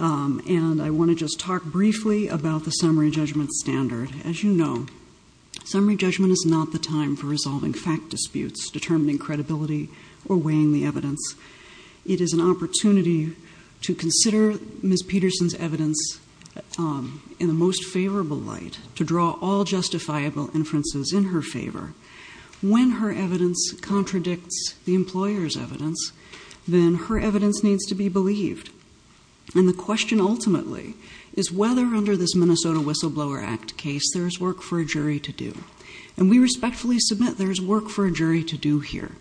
I want to just talk briefly about the summary judgment standard. As you know, summary judgment is not the time for resolving fact disputes, determining credibility, or weighing the evidence. It is an opportunity to consider Ms. Pedersen's evidence in the most favorable light, to draw all justifiable inferences in her favor. When her evidence contradicts the employer's evidence, then her evidence needs to be believed. And the question ultimately is whether under this Minnesota Whistleblower Act case there is work for a jury to do. And we respectfully submit there is work for a jury to do here.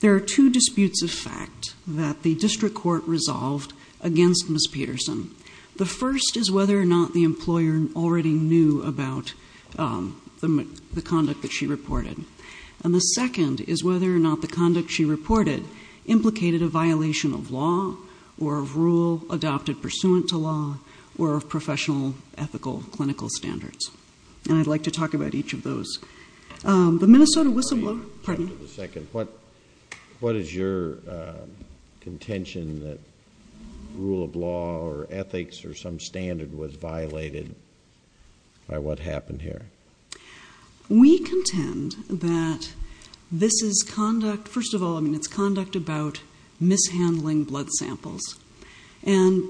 There are two disputes of fact that the district court resolved against Ms. Pedersen. The first is whether or not the employer already knew about the conduct that she reported. And the second is whether or not the conduct she reported implicated a violation of law or of rule adopted pursuant to law or of professional, ethical, clinical standards. And I'd like to talk about each of those. The Minnesota Whistleblower. Pardon me. Just a second. What is your contention that rule of law or ethics or some standard was violated by what happened here? We contend that this is conduct, first of all, I mean it's conduct about mishandling blood samples. And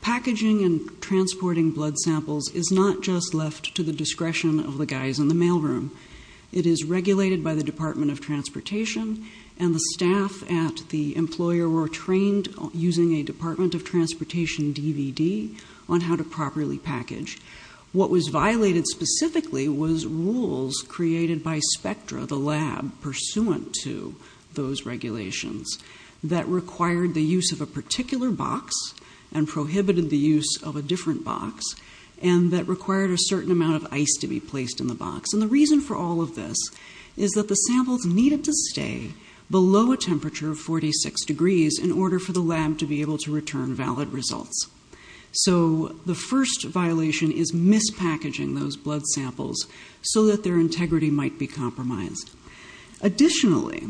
packaging and transporting blood samples is not just left to the discretion of the guys in the mail room. It is regulated by the Department of Transportation and the staff at the employer were trained using a Department of Transportation DVD on how to transport blood samples. And the reason for all of this is that the blood samples needed to stay below a temperature of 46 degrees in order for the lab to be able to return valid results. So the first violation is mispackaging those blood samples so that their integrity might be compromised. Additionally,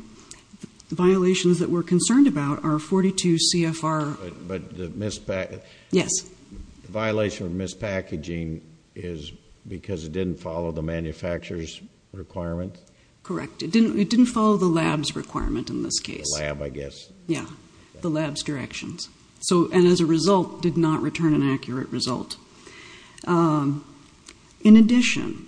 the violations that we're concerned about are 42 CFR. But the mispackaging. Yes. The violation of mispackaging is because it didn't follow the manufacturer's requirements? Correct. It didn't follow the lab's requirement in this case. The lab, I guess. Yeah. The lab's directions. So, and as a result, did not return an accurate result. In addition,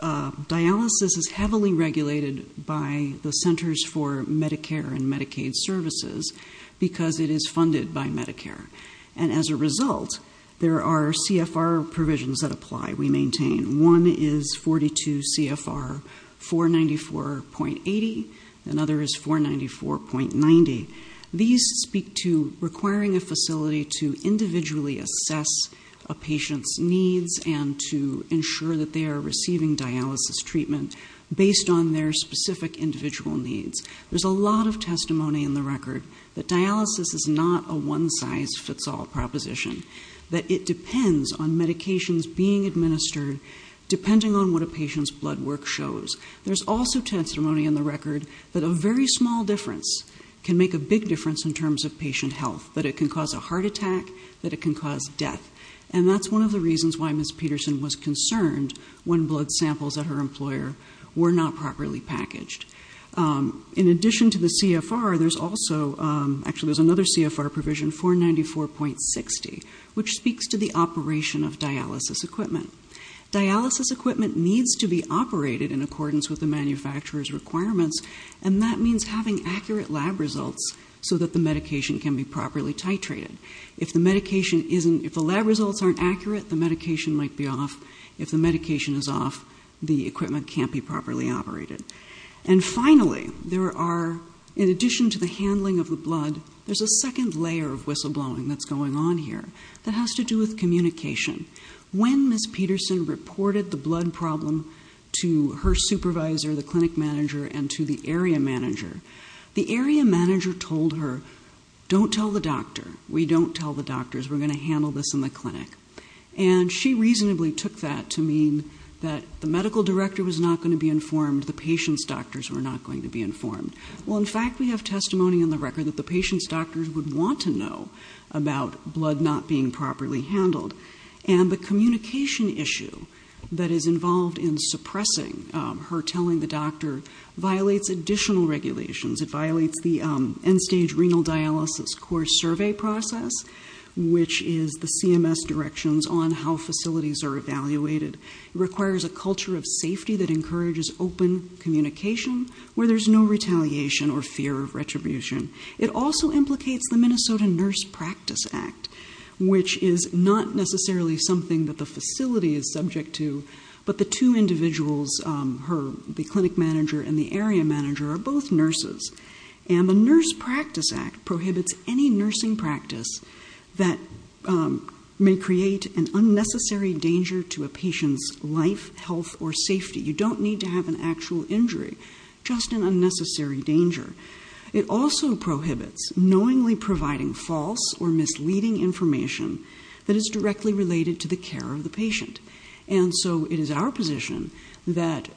dialysis is heavily regulated by the Centers for Medicare and Medicaid Services because it is funded by Medicare. And as a result, there are CFR provisions that apply. We maintain one is 42 CFR 494.80, another is 494.90. And we maintain that. These speak to requiring a facility to individually assess a patient's needs and to ensure that they are receiving dialysis treatment based on their specific individual needs. There's a lot of testimony in the record that dialysis is not a one-size-fits-all proposition. That it depends on medications being administered depending on what a patient's blood work shows. There's also testimony in the record that a very small difference can make a big difference in terms of patient health. That it can cause a heart attack. That it can cause death. And that's one of the reasons why Ms. Peterson was concerned when blood samples at her employer were not properly packaged. In addition to the CFR, there's also, actually there's another CFR provision, 494.60, which speaks to the operation of dialysis equipment. Dialysis equipment needs to be operated in accordance with the manufacturer's requirements. And that means having accurate lab results so that the medication can be properly titrated. If the medication isn't, if the lab results aren't accurate, the medication might be off. If the medication is off, the equipment can't be properly operated. And finally, there are, in addition to the handling of the blood, there's a second layer of whistleblowing that's going on here that has to do with communication. When Ms. Peterson reported the blood problem to her supervisor, the clinic manager, and to the area manager, the area manager told her, don't tell the doctor. We don't tell the doctors. We're going to handle this in the clinic. And she reasonably took that to mean that the medical director was not going to be informed. The patient's doctors were not going to be informed. Well, in fact, we have testimony in the record that the patient's doctors would want to know about blood not being properly handled. And the communication issue that is involved in suppressing her telling the doctor violates additional regulations. It violates the end-stage renal dialysis core survey process, which is the CMS directions on how facilities are evaluated. It requires a culture of safety that encourages open communication where there's no retaliation or fear of retribution. It also implicates the Minnesota Nurse Practice Act, which is not necessarily something that the facility is subject to, but the two individuals, the clinic manager and the area manager, are both nurses. And the Nurse Practice Act prohibits any nursing practice that may create an unnecessary danger to a patient's life, health, or safety. You don't need to have an actual injury, just an unnecessary danger. It also prohibits knowingly providing false or misleading information that is directly related to the care of the patient. And so it is our position that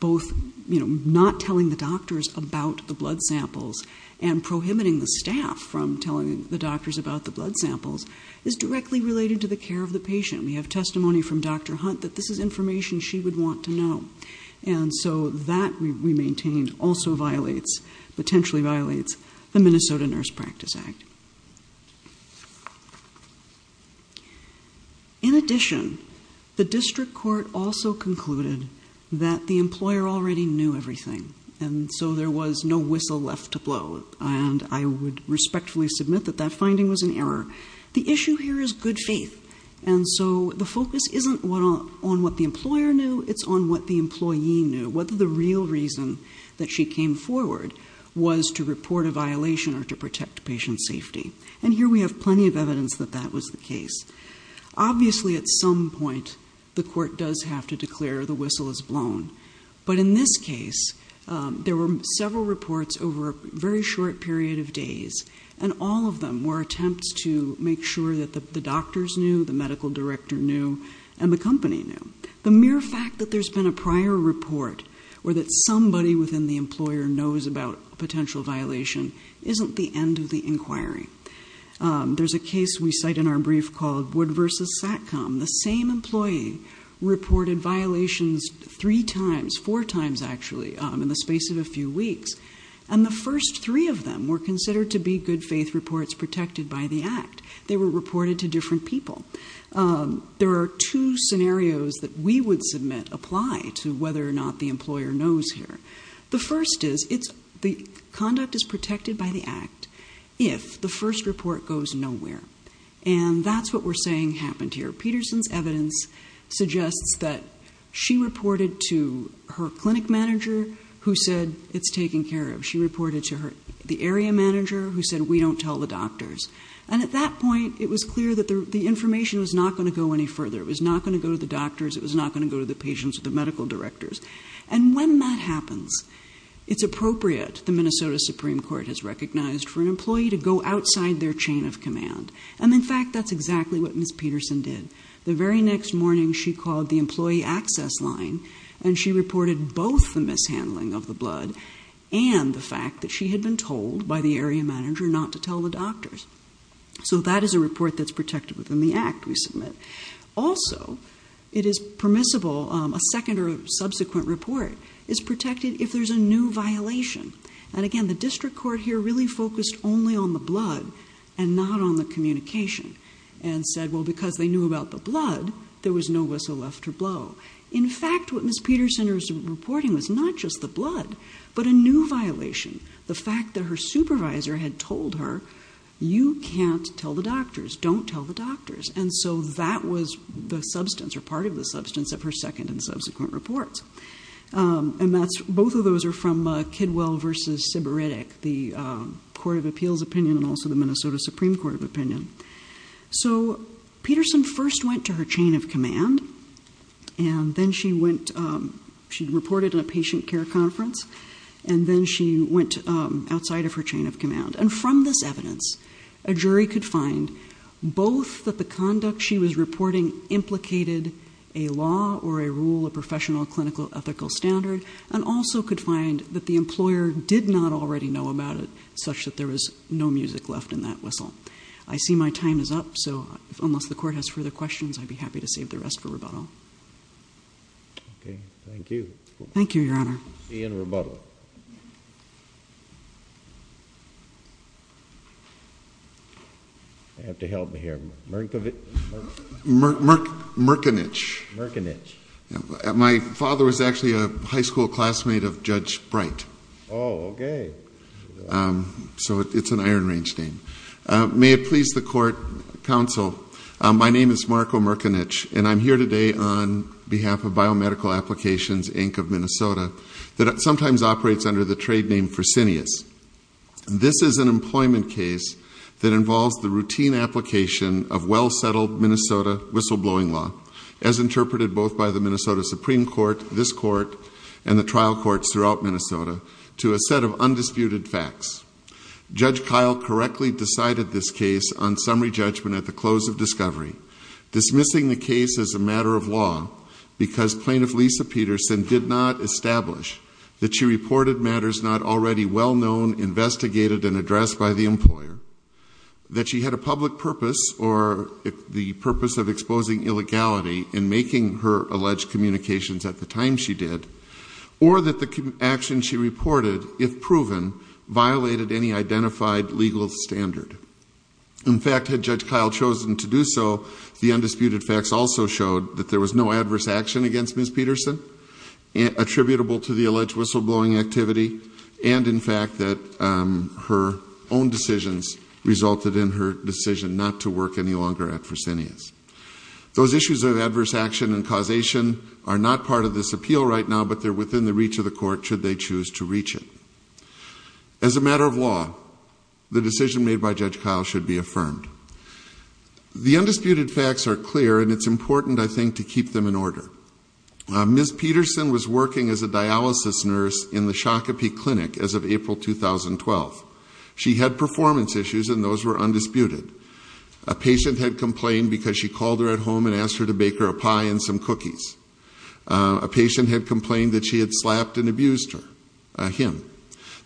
both not telling the doctors about the blood samples and prohibiting the staff from telling the doctors about the blood samples is directly related to the care of the patient. We have testimony from Dr. Hunt that this is information she would want to know. And so that, we maintain, also violates, potentially violates, the Minnesota Nurse Practice Act. In addition, the district court also concluded that the employer already knew everything, and so there was no whistle left to blow. And I would respectfully submit that that if the employer knew, it's on what the employee knew, whether the real reason that she came forward was to report a violation or to protect patient safety. And here we have plenty of evidence that that was the case. Obviously, at some point, the court does have to declare the whistle is blown. But in this case, there were several reports over a very short period of days, and all of them were attempts to make sure that the doctors knew, the medical director knew, and the company knew. The mere fact that there's been a prior report or that somebody within the employer knows about a potential violation isn't the end of the inquiry. There's a case we cite in our brief called Wood v. Satcom. The same employee reported violations three times, four times, actually, in the space of a few weeks. And the first three of them were considered to be good faith reports protected by the act. They were reported to different people. There are two scenarios that we would submit apply to whether or not the employer knows here. The first is the conduct is protected by the act if the first report goes nowhere. And that's what we're saying happened here. Peterson's evidence suggests that she reported to her clinic manager who said it's taken care of. She reported to the area manager who said, we don't tell the doctors. And at that point, it was clear that the information was not going to go any further. It was not going to go to the doctors. It was not going to go to the patients or the medical directors. And when that happens, it's appropriate, the Minnesota Supreme Court has recognized, for an employee to go outside their chain of command. And in fact, that's exactly what Ms. Peterson did. The very next morning, she called the employee access line, and she reported both the mishandling of the report. She had been told by the area manager not to tell the doctors. So that is a report that's protected within the act we submit. Also, it is permissible, a second or subsequent report is protected if there's a new violation. And again, the district court here really focused only on the blood and not on the communication and said, well, because they knew about the blood, there was no whistle left to blow. In fact, what Ms. Peterson was reporting was not just the blood, but a new violation. The fact that her supervisor had told her, you can't tell the doctors, don't tell the doctors. And so that was the substance or part of the substance of her second and subsequent reports. And both of those are from Kidwell versus Sybaritic, the Court of Appeals opinion and also the Minnesota Supreme Court of Opinion. So Peterson first went to her chain of command, and then she went, she reported in a patient care conference, and then she went outside of her chain of command. And from this evidence, a jury could find both that the conduct she was reporting implicated a law or a rule of professional clinical ethical standard, and also could find that the employer did not already know about it, such that there was no music left in that whistle. I see my time is up, so unless the court has further questions, I'd be happy to save the rest for rebuttal. Okay. Thank you. Thank you, Your Honor. Ian Rebuttal. You have to help me here. Merkavich? Merkinich. Merkinich. My father was actually a high school classmate of Judge Bright. Oh, okay. So it's an iron range name. May it please the court, counsel, my name is Marco Merkinich, and I'm here today on behalf of Biomedical Applications, Inc. of Minnesota, that sometimes operates under the trade name Fresenius. This is an employment case that involves the routine application of well-settled Minnesota whistleblowing law, as interpreted both by the Minnesota Supreme Court, this court, and the trial courts throughout Minnesota, to a set of undisputed facts. Judge Kyle correctly decided this case on summary judgment at the close of discovery, dismissing the case as a matter of law, because Plaintiff Lisa Peterson did not establish that she reported matters not already well-known, investigated, and addressed by the employer, that she had a public purpose, or the purpose of exposing illegality in making her alleged communications at the time she did, or that the action she reported, if proven, violated any identified legal standard. In fact, had Judge Kyle chosen to do so, the undisputed facts also showed that there was no adverse action against Ms. Peterson attributable to the alleged whistleblowing activity, and in fact, that her own decisions resulted in her decision not to work any longer at Fresenius. Those issues of adverse action and causation are not part of this appeal right now, but they're within the reach of the court should they choose to reach it. As a matter of law, the decision made by Judge Kyle should be affirmed. The undisputed facts are clear, and it's important, I think, to keep them in order. Ms. Peterson was working as a dialysis nurse in the Shakopee Clinic as of April 2012. She had performance issues, and those were undisputed. A patient had complained because she called her at home and asked her to bake her a pie and some cookies. A patient had complained that she had slapped and abused him,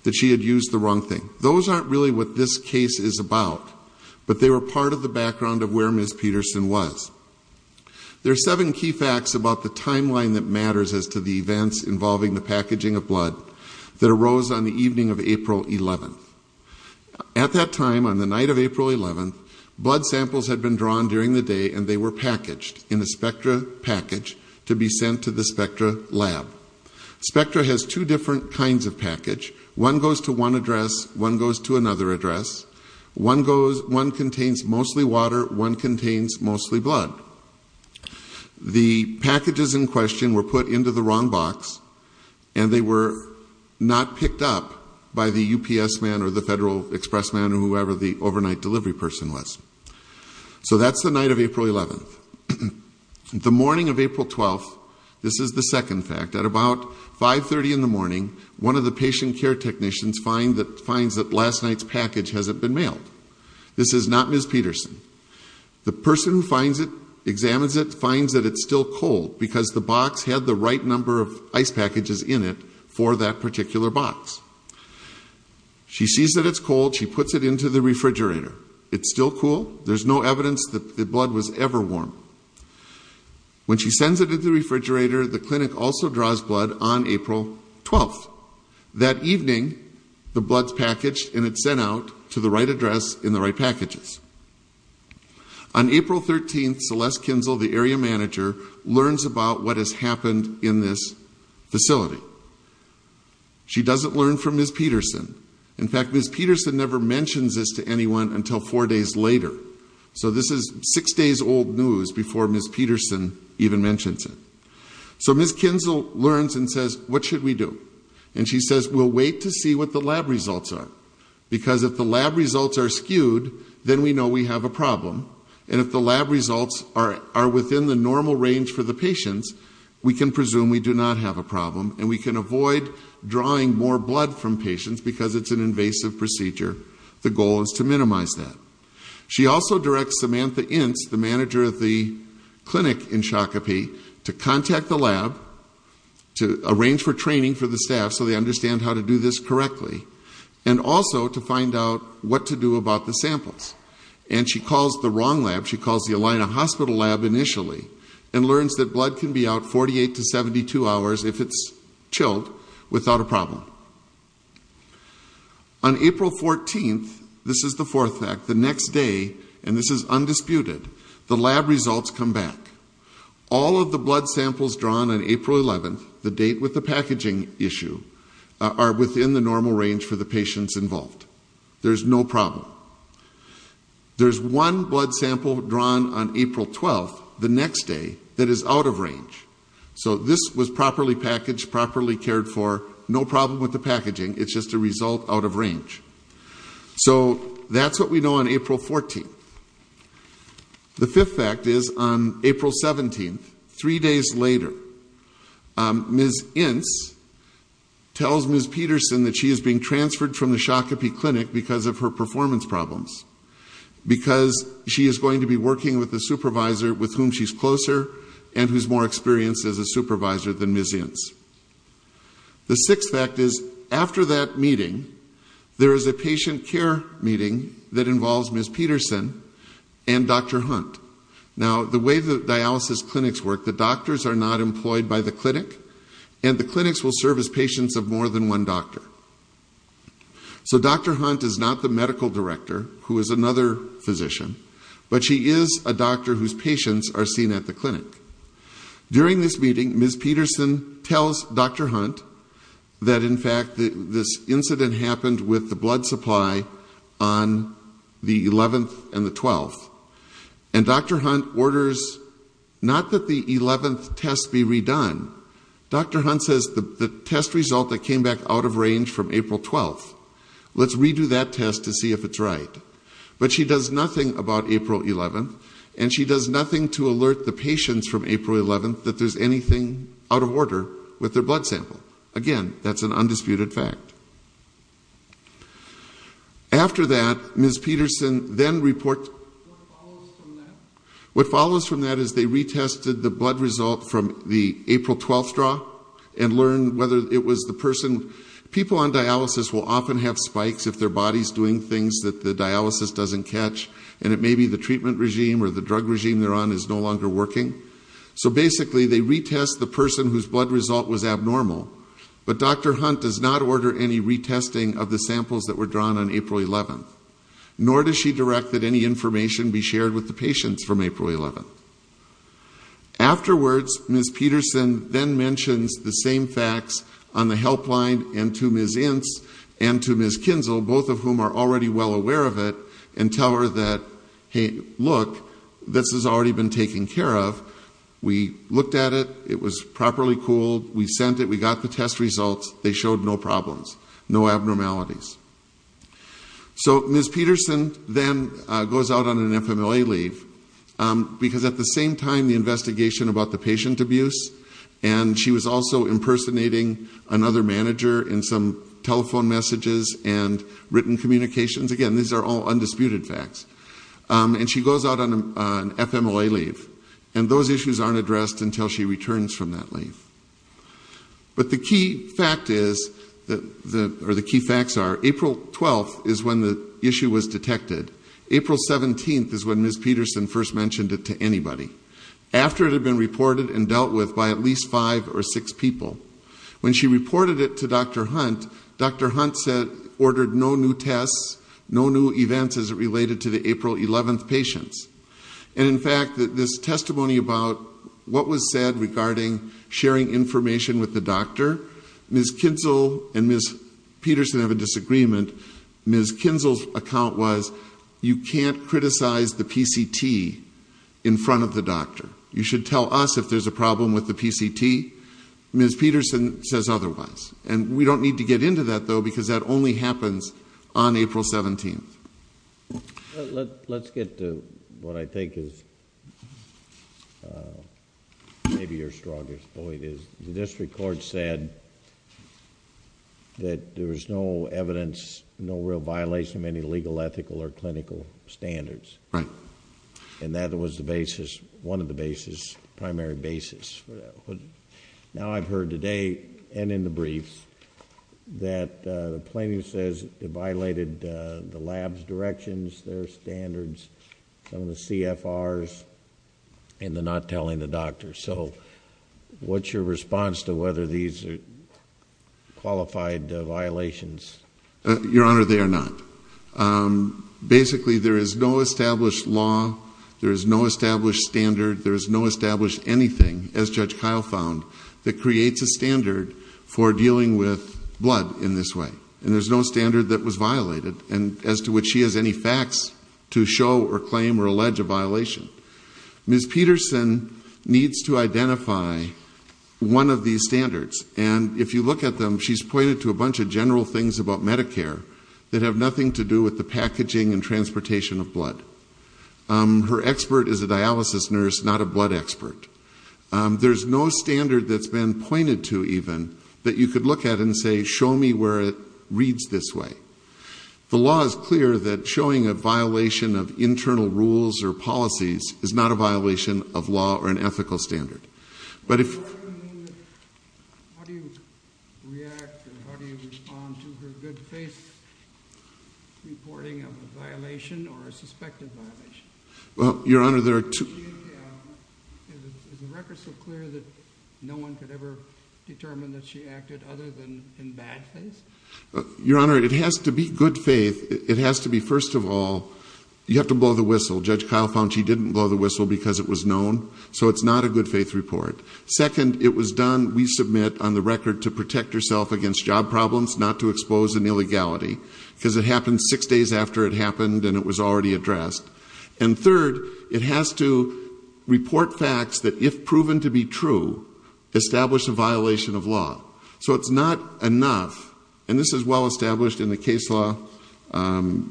that she had used the wrong thing. Those aren't really what this case is about, but they were part of the background of where Ms. Peterson was. There are seven key facts about the timeline that matters as to the At that time, on the night of April 11th, blood samples had been drawn during the day and they were packaged in a Spectra package to be sent to the Spectra lab. Spectra has two different kinds of package. One goes to one address, one goes to another address. One contains mostly water, one contains mostly blood. The packages in question were put into the wrong box and they were not picked up by the UPS man or the Federal Express man or whoever the overnight delivery person was. So that's the night of April 11th. The morning of April 12th, this is the second fact, at about 5.30 in the morning, one of the patient care technicians finds that last night's package hasn't been mailed. This is not Ms. Peterson. The person who finds it, examines it, finds that it's still cold because the box had the right number of ice packages in it for that particular box. She sees that it's cold. She puts it into the refrigerator. It's still cool. There's no evidence that the blood was ever warm. When she sends it into the refrigerator, the clinic also draws blood on April 12th. That evening, the blood's packaged and it's sent out to the right address in the right in this facility. She doesn't learn from Ms. Peterson. In fact, Ms. Peterson never mentions this to anyone until four days later. So this is six days old news before Ms. Peterson even mentions it. So Ms. Kinzel learns and says, what should we do? And she says, we'll wait to see what the lab results are. Because if the lab results are skewed, then we know we have a problem. And if the lab results are within the normal range for the patients, we can presume we do not have a problem. And we can avoid drawing more blood from patients because it's an invasive procedure. The goal is to minimize that. She also directs Samantha Ince, the manager of the clinic in Shakopee, to contact the lab, to arrange for training for the staff so they understand how to do this correctly. And also to find out what to do about the samples. And she calls the wrong lab. She calls the Alina Hospital lab initially and learns that blood can be out 48 to 72 hours if it's chilled without a problem. On April 14th, this is the fourth fact, the next day, and this is undisputed, the lab results come back. All of the blood samples drawn on April 11th, the date with the packaging issue, are within the normal range for the patients involved. There's no problem. There's one blood sample drawn on April 12th, the next day, that is out of range. So this was properly packaged, properly cared for, no problem with the packaging, it's just a result out of range. So that's what we know on April 14th. The fifth fact is on April 17th, three days later, Ms. Ince tells Ms. Peterson that she is being transferred from the Shakopee Clinic because of her performance problems. Because she is going to be working with the supervisor with whom she's closer and who's more experienced as a supervisor than Ms. Ince. The sixth fact is, after that meeting, there is a patient care meeting that involves Ms. Peterson and Dr. Hunt. Now, the way the dialysis clinics work, the doctors are not employed by the clinic, and the clinics will serve as patients of more than one doctor. So Dr. Hunt is not the medical director, who is another physician, but she is a doctor whose patients are seen at the clinic. During this meeting, Ms. Peterson tells Dr. Hunt that in fact this incident happened with the blood supply on the 11th and the 12th. And Dr. Hunt orders, not that the 11th test be redone, Dr. Hunt says the test result that of range from April 12th. Let's redo that test to see if it's right. But she does nothing about April 11th, and she does nothing to alert the patients from April 11th that there's anything out of order with their blood sample. Again, that's an undisputed fact. After that, Ms. Peterson then reports, what follows from that is they retested the blood People on dialysis will often have spikes if their body's doing things that the dialysis doesn't catch, and it may be the treatment regime or the drug regime they're on is no longer working. So basically, they retest the person whose blood result was abnormal, but Dr. Hunt does not order any retesting of the samples that were drawn on April 11th. Nor does she direct that any information be shared with the patients from April 11th. Afterwards, Ms. Peterson then mentions the same facts on the helpline and to Ms. Ince and to Ms. Kinzel, both of whom are already well aware of it, and tell her that, hey look, this has already been taken care of. We looked at it, it was properly cooled, we sent it, we got the test results, they showed no problems, no abnormalities. So Ms. Peterson then goes out on an FMLA leave, because at the same time, the investigation about the patient abuse, and she was also impersonating another manager in some telephone messages and written communications, again, these are all undisputed facts. And she goes out on an FMLA leave, and those issues aren't addressed until she returns from that leave. But the key fact is, or the key facts are, April 12th is when the issue was detected. April 17th is when Ms. Peterson first mentioned it to anybody. After it had been reported and dealt with by at least five or six people. When she reported it to Dr. Hunt, Dr. Hunt said, ordered no new tests, no new events as it related to the April 11th patients. And in fact, this testimony about what was said regarding sharing information with the doctor, Ms. Kinzel and Ms. Peterson have a disagreement. Ms. Kinzel's account was, you can't criticize the PCT in front of the doctor. You should tell us if there's a problem with the PCT. Ms. Peterson says otherwise. And we don't need to get into that though, because that only happens on April 17th. Let's get to what I think is maybe your strongest point. The district court said that there was no evidence, no real violation of any legal, ethical, or clinical standards. Right. And that was the basis, one of the basis, primary basis. Now I've heard today and in the briefs that the plaintiff says it violated the lab's directions, their standards, some of the CFRs, and the not telling the doctor. So what's your response to whether these are qualified violations? Your Honor, they are not. Basically, there is no established law, there is no established standard, there is no established anything, as Judge Kyle found, that creates a standard for dealing with blood in this way. And there's no standard that was violated as to which she has any facts to show or claim or allege a violation. Ms. Peterson needs to identify one of these standards. And if you look at them, she's pointed to a bunch of general things about Medicare that have nothing to do with the There's no standard that's been pointed to, even, that you could look at and say, show me where it reads this way. The law is clear that showing a violation of internal rules or policies is not a violation of law or an ethical standard. But if How do you react and how do you respond to her good face reporting of a violation or a suspected violation? Well, Your Honor, there are two Is the record so clear that no one could ever determine that she acted other than in bad face? Your Honor, it has to be good faith. It has to be, first of all, you have to blow the whistle. Judge Kyle found she didn't blow the whistle because it was known. So it's not a good faith report. Second, it was done, we submit, on the record, to protect herself against job problems, not to expose an illegality, because it happened six days after it happened and it was already addressed. And third, it has to report facts that, if proven to be true, establish a violation of law. So it's not enough, and this is well established in the case law,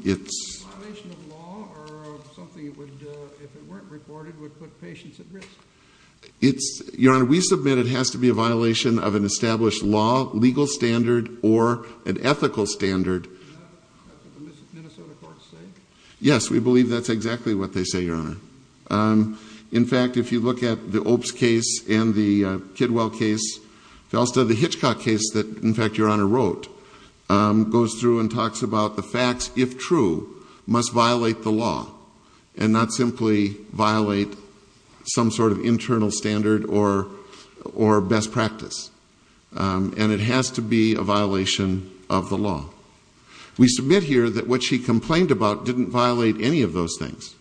it's A violation of law or something would, if it weren't reported, would put patients at risk? It's, Your Honor, we submit it has to be a violation of an established law, legal standard or an ethical standard. Is that what the Minnesota courts say? Yes, we believe that's exactly what they say, Your Honor. In fact, if you look at the Opes case and the Kidwell case, the Hitchcock case that, in fact, Your Honor wrote, goes through and talks about the facts, if true, must violate the law and not simply violate some sort of internal standard or best practice. And it has to be a violation of the law. We submit here that what she complained about didn't violate any of those things.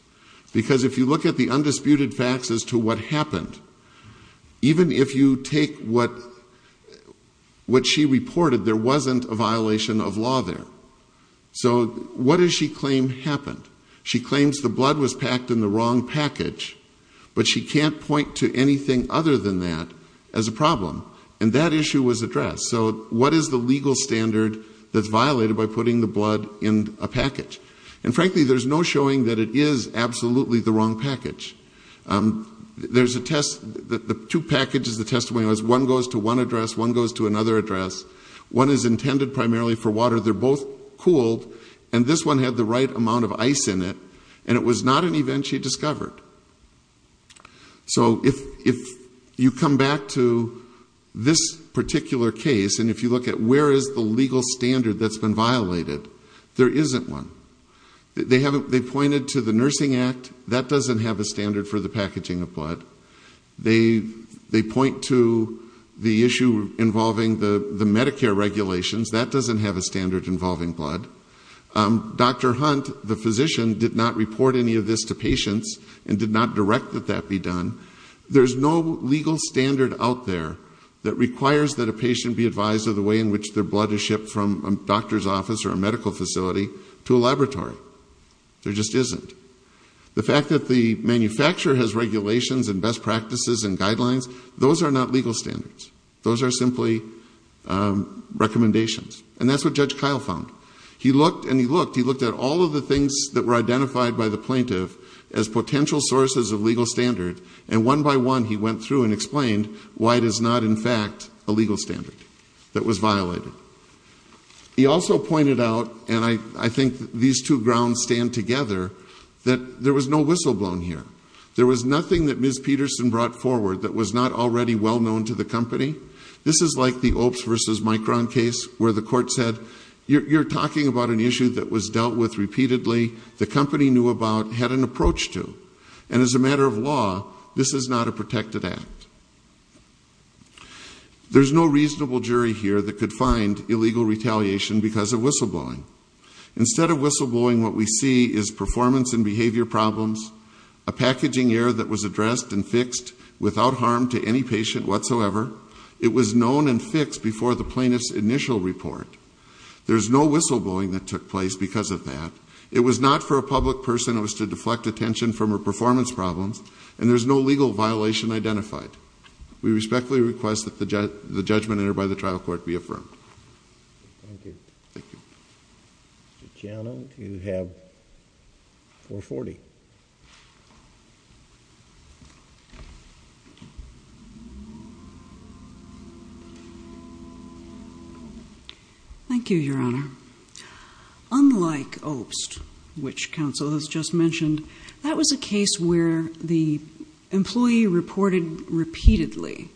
Because if you look at the undisputed facts as to what happened, even if you take what she reported, there wasn't a violation of law there. So what does she claim happened? She claims the blood was packed in the wrong package, but she can't point to anything other than that as a problem. And that issue was addressed. So what is the legal standard that's violated by putting the blood in a package? And frankly, there's no showing that it is absolutely the wrong package. There's a test, the two packages the testimony was, one goes to one address, one goes to another address. One is intended primarily for water. They're both cooled. And this one had the right amount of ice in it. And it was not an event she this particular case, and if you look at where is the legal standard that's been violated, there isn't one. They pointed to the Nursing Act. That doesn't have a standard for the packaging of blood. They point to the issue involving the Medicare regulations. That doesn't have a standard involving blood. Dr. Hunt, the physician, did not report any of this to patients and did not direct that that be done. There's no legal standard out there that requires that a patient be advised of the way in which their blood is shipped from a doctor's office or a medical facility to a laboratory. There just isn't. The fact that the manufacturer has regulations and best practices and guidelines, those are not legal standards. Those are simply recommendations. And that's what Judge Kyle found. He looked at all of the things that were identified by the plaintiff as potential sources of legal standard, and one by one he went through and explained why it is not, in fact, a legal standard that was violated. He also pointed out, and I think these two grounds stand together, that there was no whistleblown here. There was nothing that Ms. Peterson brought forward that was not already well known to the company. This is like the Opes v. Micron case where the court said, you're talking about an issue that was dealt with repeatedly, the company knew about, had an approach to. And as a matter of law, this is not a protected act. There's no reasonable jury here that could find illegal retaliation because of whistleblowing. Instead of whistleblowing, what we see is performance and behavior problems, a packaging error that was addressed and fixed without harm to any patient whatsoever. It was known and fixed before the plaintiff's initial report. There's no whistleblowing that took place because of that. It was not for a public person. It was to deflect attention from her performance problems, and there's no legal violation identified. We respectfully request that the judgment entered by the trial court be affirmed. Thank you. Thank you. Mr. Chiano, you have 440. Thank you, Your Honor. Unlike OPST, which counsel has just mentioned, that was a case where the employee reported repeatedly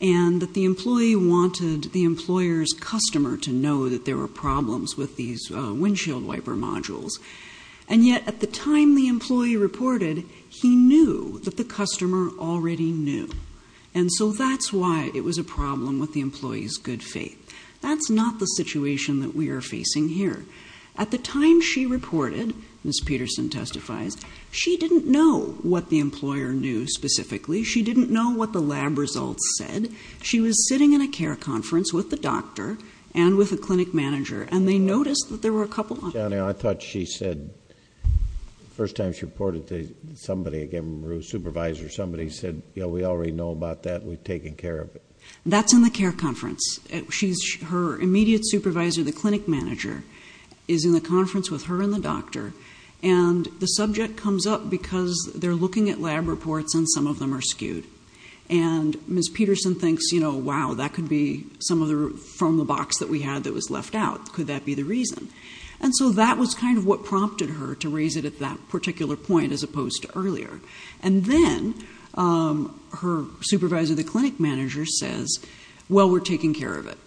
and that the employee wanted the employer's customer to know that there were problems with these windshield wiper modules. And yet at the time the employee reported, he knew that the customer already knew. And so that's why it was a problem with the employee's good faith. That's not the situation that we are facing here. At the time she reported, Ms. Peterson testifies, she didn't know what the employer knew specifically. She didn't know what the lab results said. She was sitting in a care conference with the doctor and with a clinic manager, and they noticed that there were a couple of... Chiano, I thought she said, the first time she reported to somebody, again, a supervisor, somebody said, you know, we already know about that, we've taken care of it. That's in the care conference. Her immediate supervisor, the clinic manager, is in the conference with her and the doctor, and the subject comes up because they're looking at lab reports and some of them are skewed. And Ms. Peterson thinks, you know, wow, that could be from the box that we had that was left out. Could that be the reason? And so that was kind of what prompted her to raise it at that particular point as opposed to earlier. And then her supervisor, the clinic manager, says, well, we're taking care of it.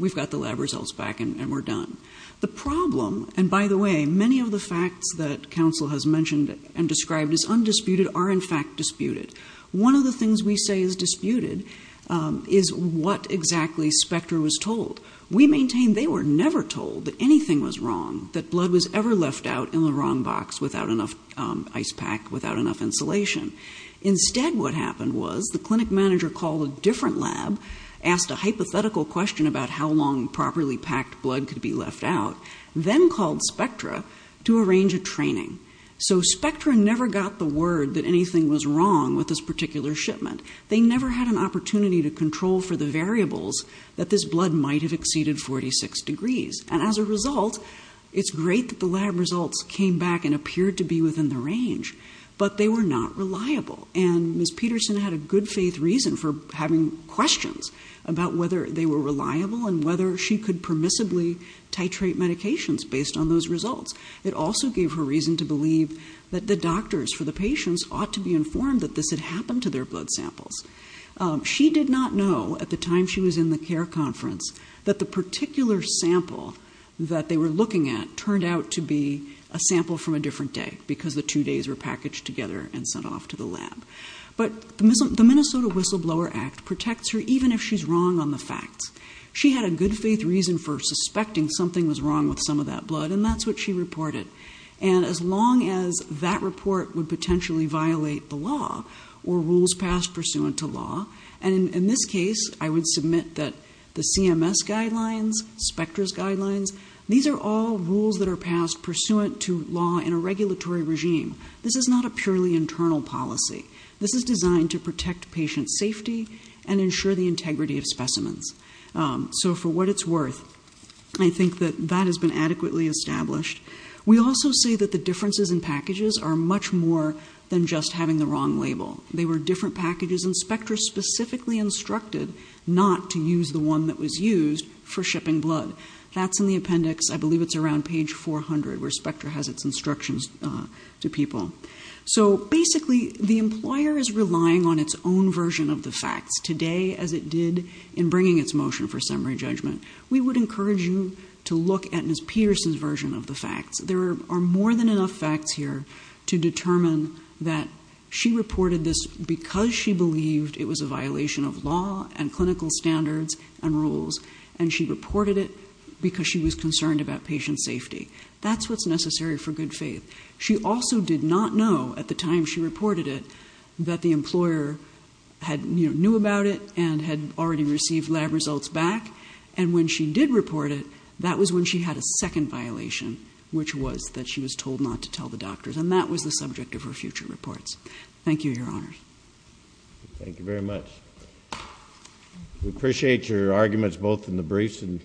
We've got the lab results back and we're done. The problem, and by the way, many of the facts that counsel has mentioned and described as undisputed are in fact disputed. One of the things we say is disputed is what exactly Spectre was told. We maintain they were never told that anything was wrong, that blood was ever left out in the wrong box without enough ice pack, without enough insulation. Instead what happened was the clinic manager called a different lab, asked a hypothetical question about how long properly packed blood could be left out, then called Spectre to arrange a training. So Spectre never got the word that anything was wrong with this particular shipment. They never had an opportunity to control for the variables that this blood might have exceeded 46 degrees. And as a result, it's great that the lab results came back and appeared to be within the range, but they were not reliable. And Ms. Peterson had a good faith reason for having questions about whether they were reliable and whether she could permissibly titrate medications based on those results. It also gave her reason to believe that the doctors for the patients ought to be informed that this had happened to their blood samples. She did not know at the time she was in the care conference that the particular sample that they were looking at turned out to be a sample from a different day because the two days were packaged together and sent off to the lab. But the Minnesota Whistleblower Act protects her even if she's wrong on the facts. She had a good faith reason for suspecting something was wrong with some of that blood, and that's what she reported. And as long as that report would potentially violate the law or rules passed pursuant to law, and in this case, I would submit that the CMS guidelines, Specter's guidelines, these are all rules that are passed pursuant to law in a regulatory regime. This is not a purely internal policy. This is designed to protect patient safety and ensure the integrity of specimens. So for what it's worth, I think that that has been adequately established. We also say that the differences in packages are much more than just having the wrong label. They were different packages, and Specter specifically instructed not to use the one that was used for shipping blood. That's in the appendix. I believe it's around page 400 where Specter has its instructions to people. So basically, the employer is relying on its own version of the facts today as it did in bringing its motion for summary judgment. We would encourage you to look at Ms. Pierce's version of the facts. There are more than enough facts here to determine that she reported this because she believed it was a violation of law and clinical standards and rules, and she reported it because she was concerned about patient safety. That's what's necessary for good faith. She also did not know at the time she reported it that the employer knew about it and had already received lab results back, and when she did report it, that was when she had a second violation, which was that she was told not to tell the doctors, and that was the subject of her future reports. Thank you, Your Honors. Thank you very much. We appreciate your arguments both in the briefs and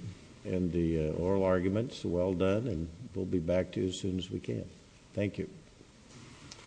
the oral arguments. Well done, and we'll be back to you as soon as we can. Thank you.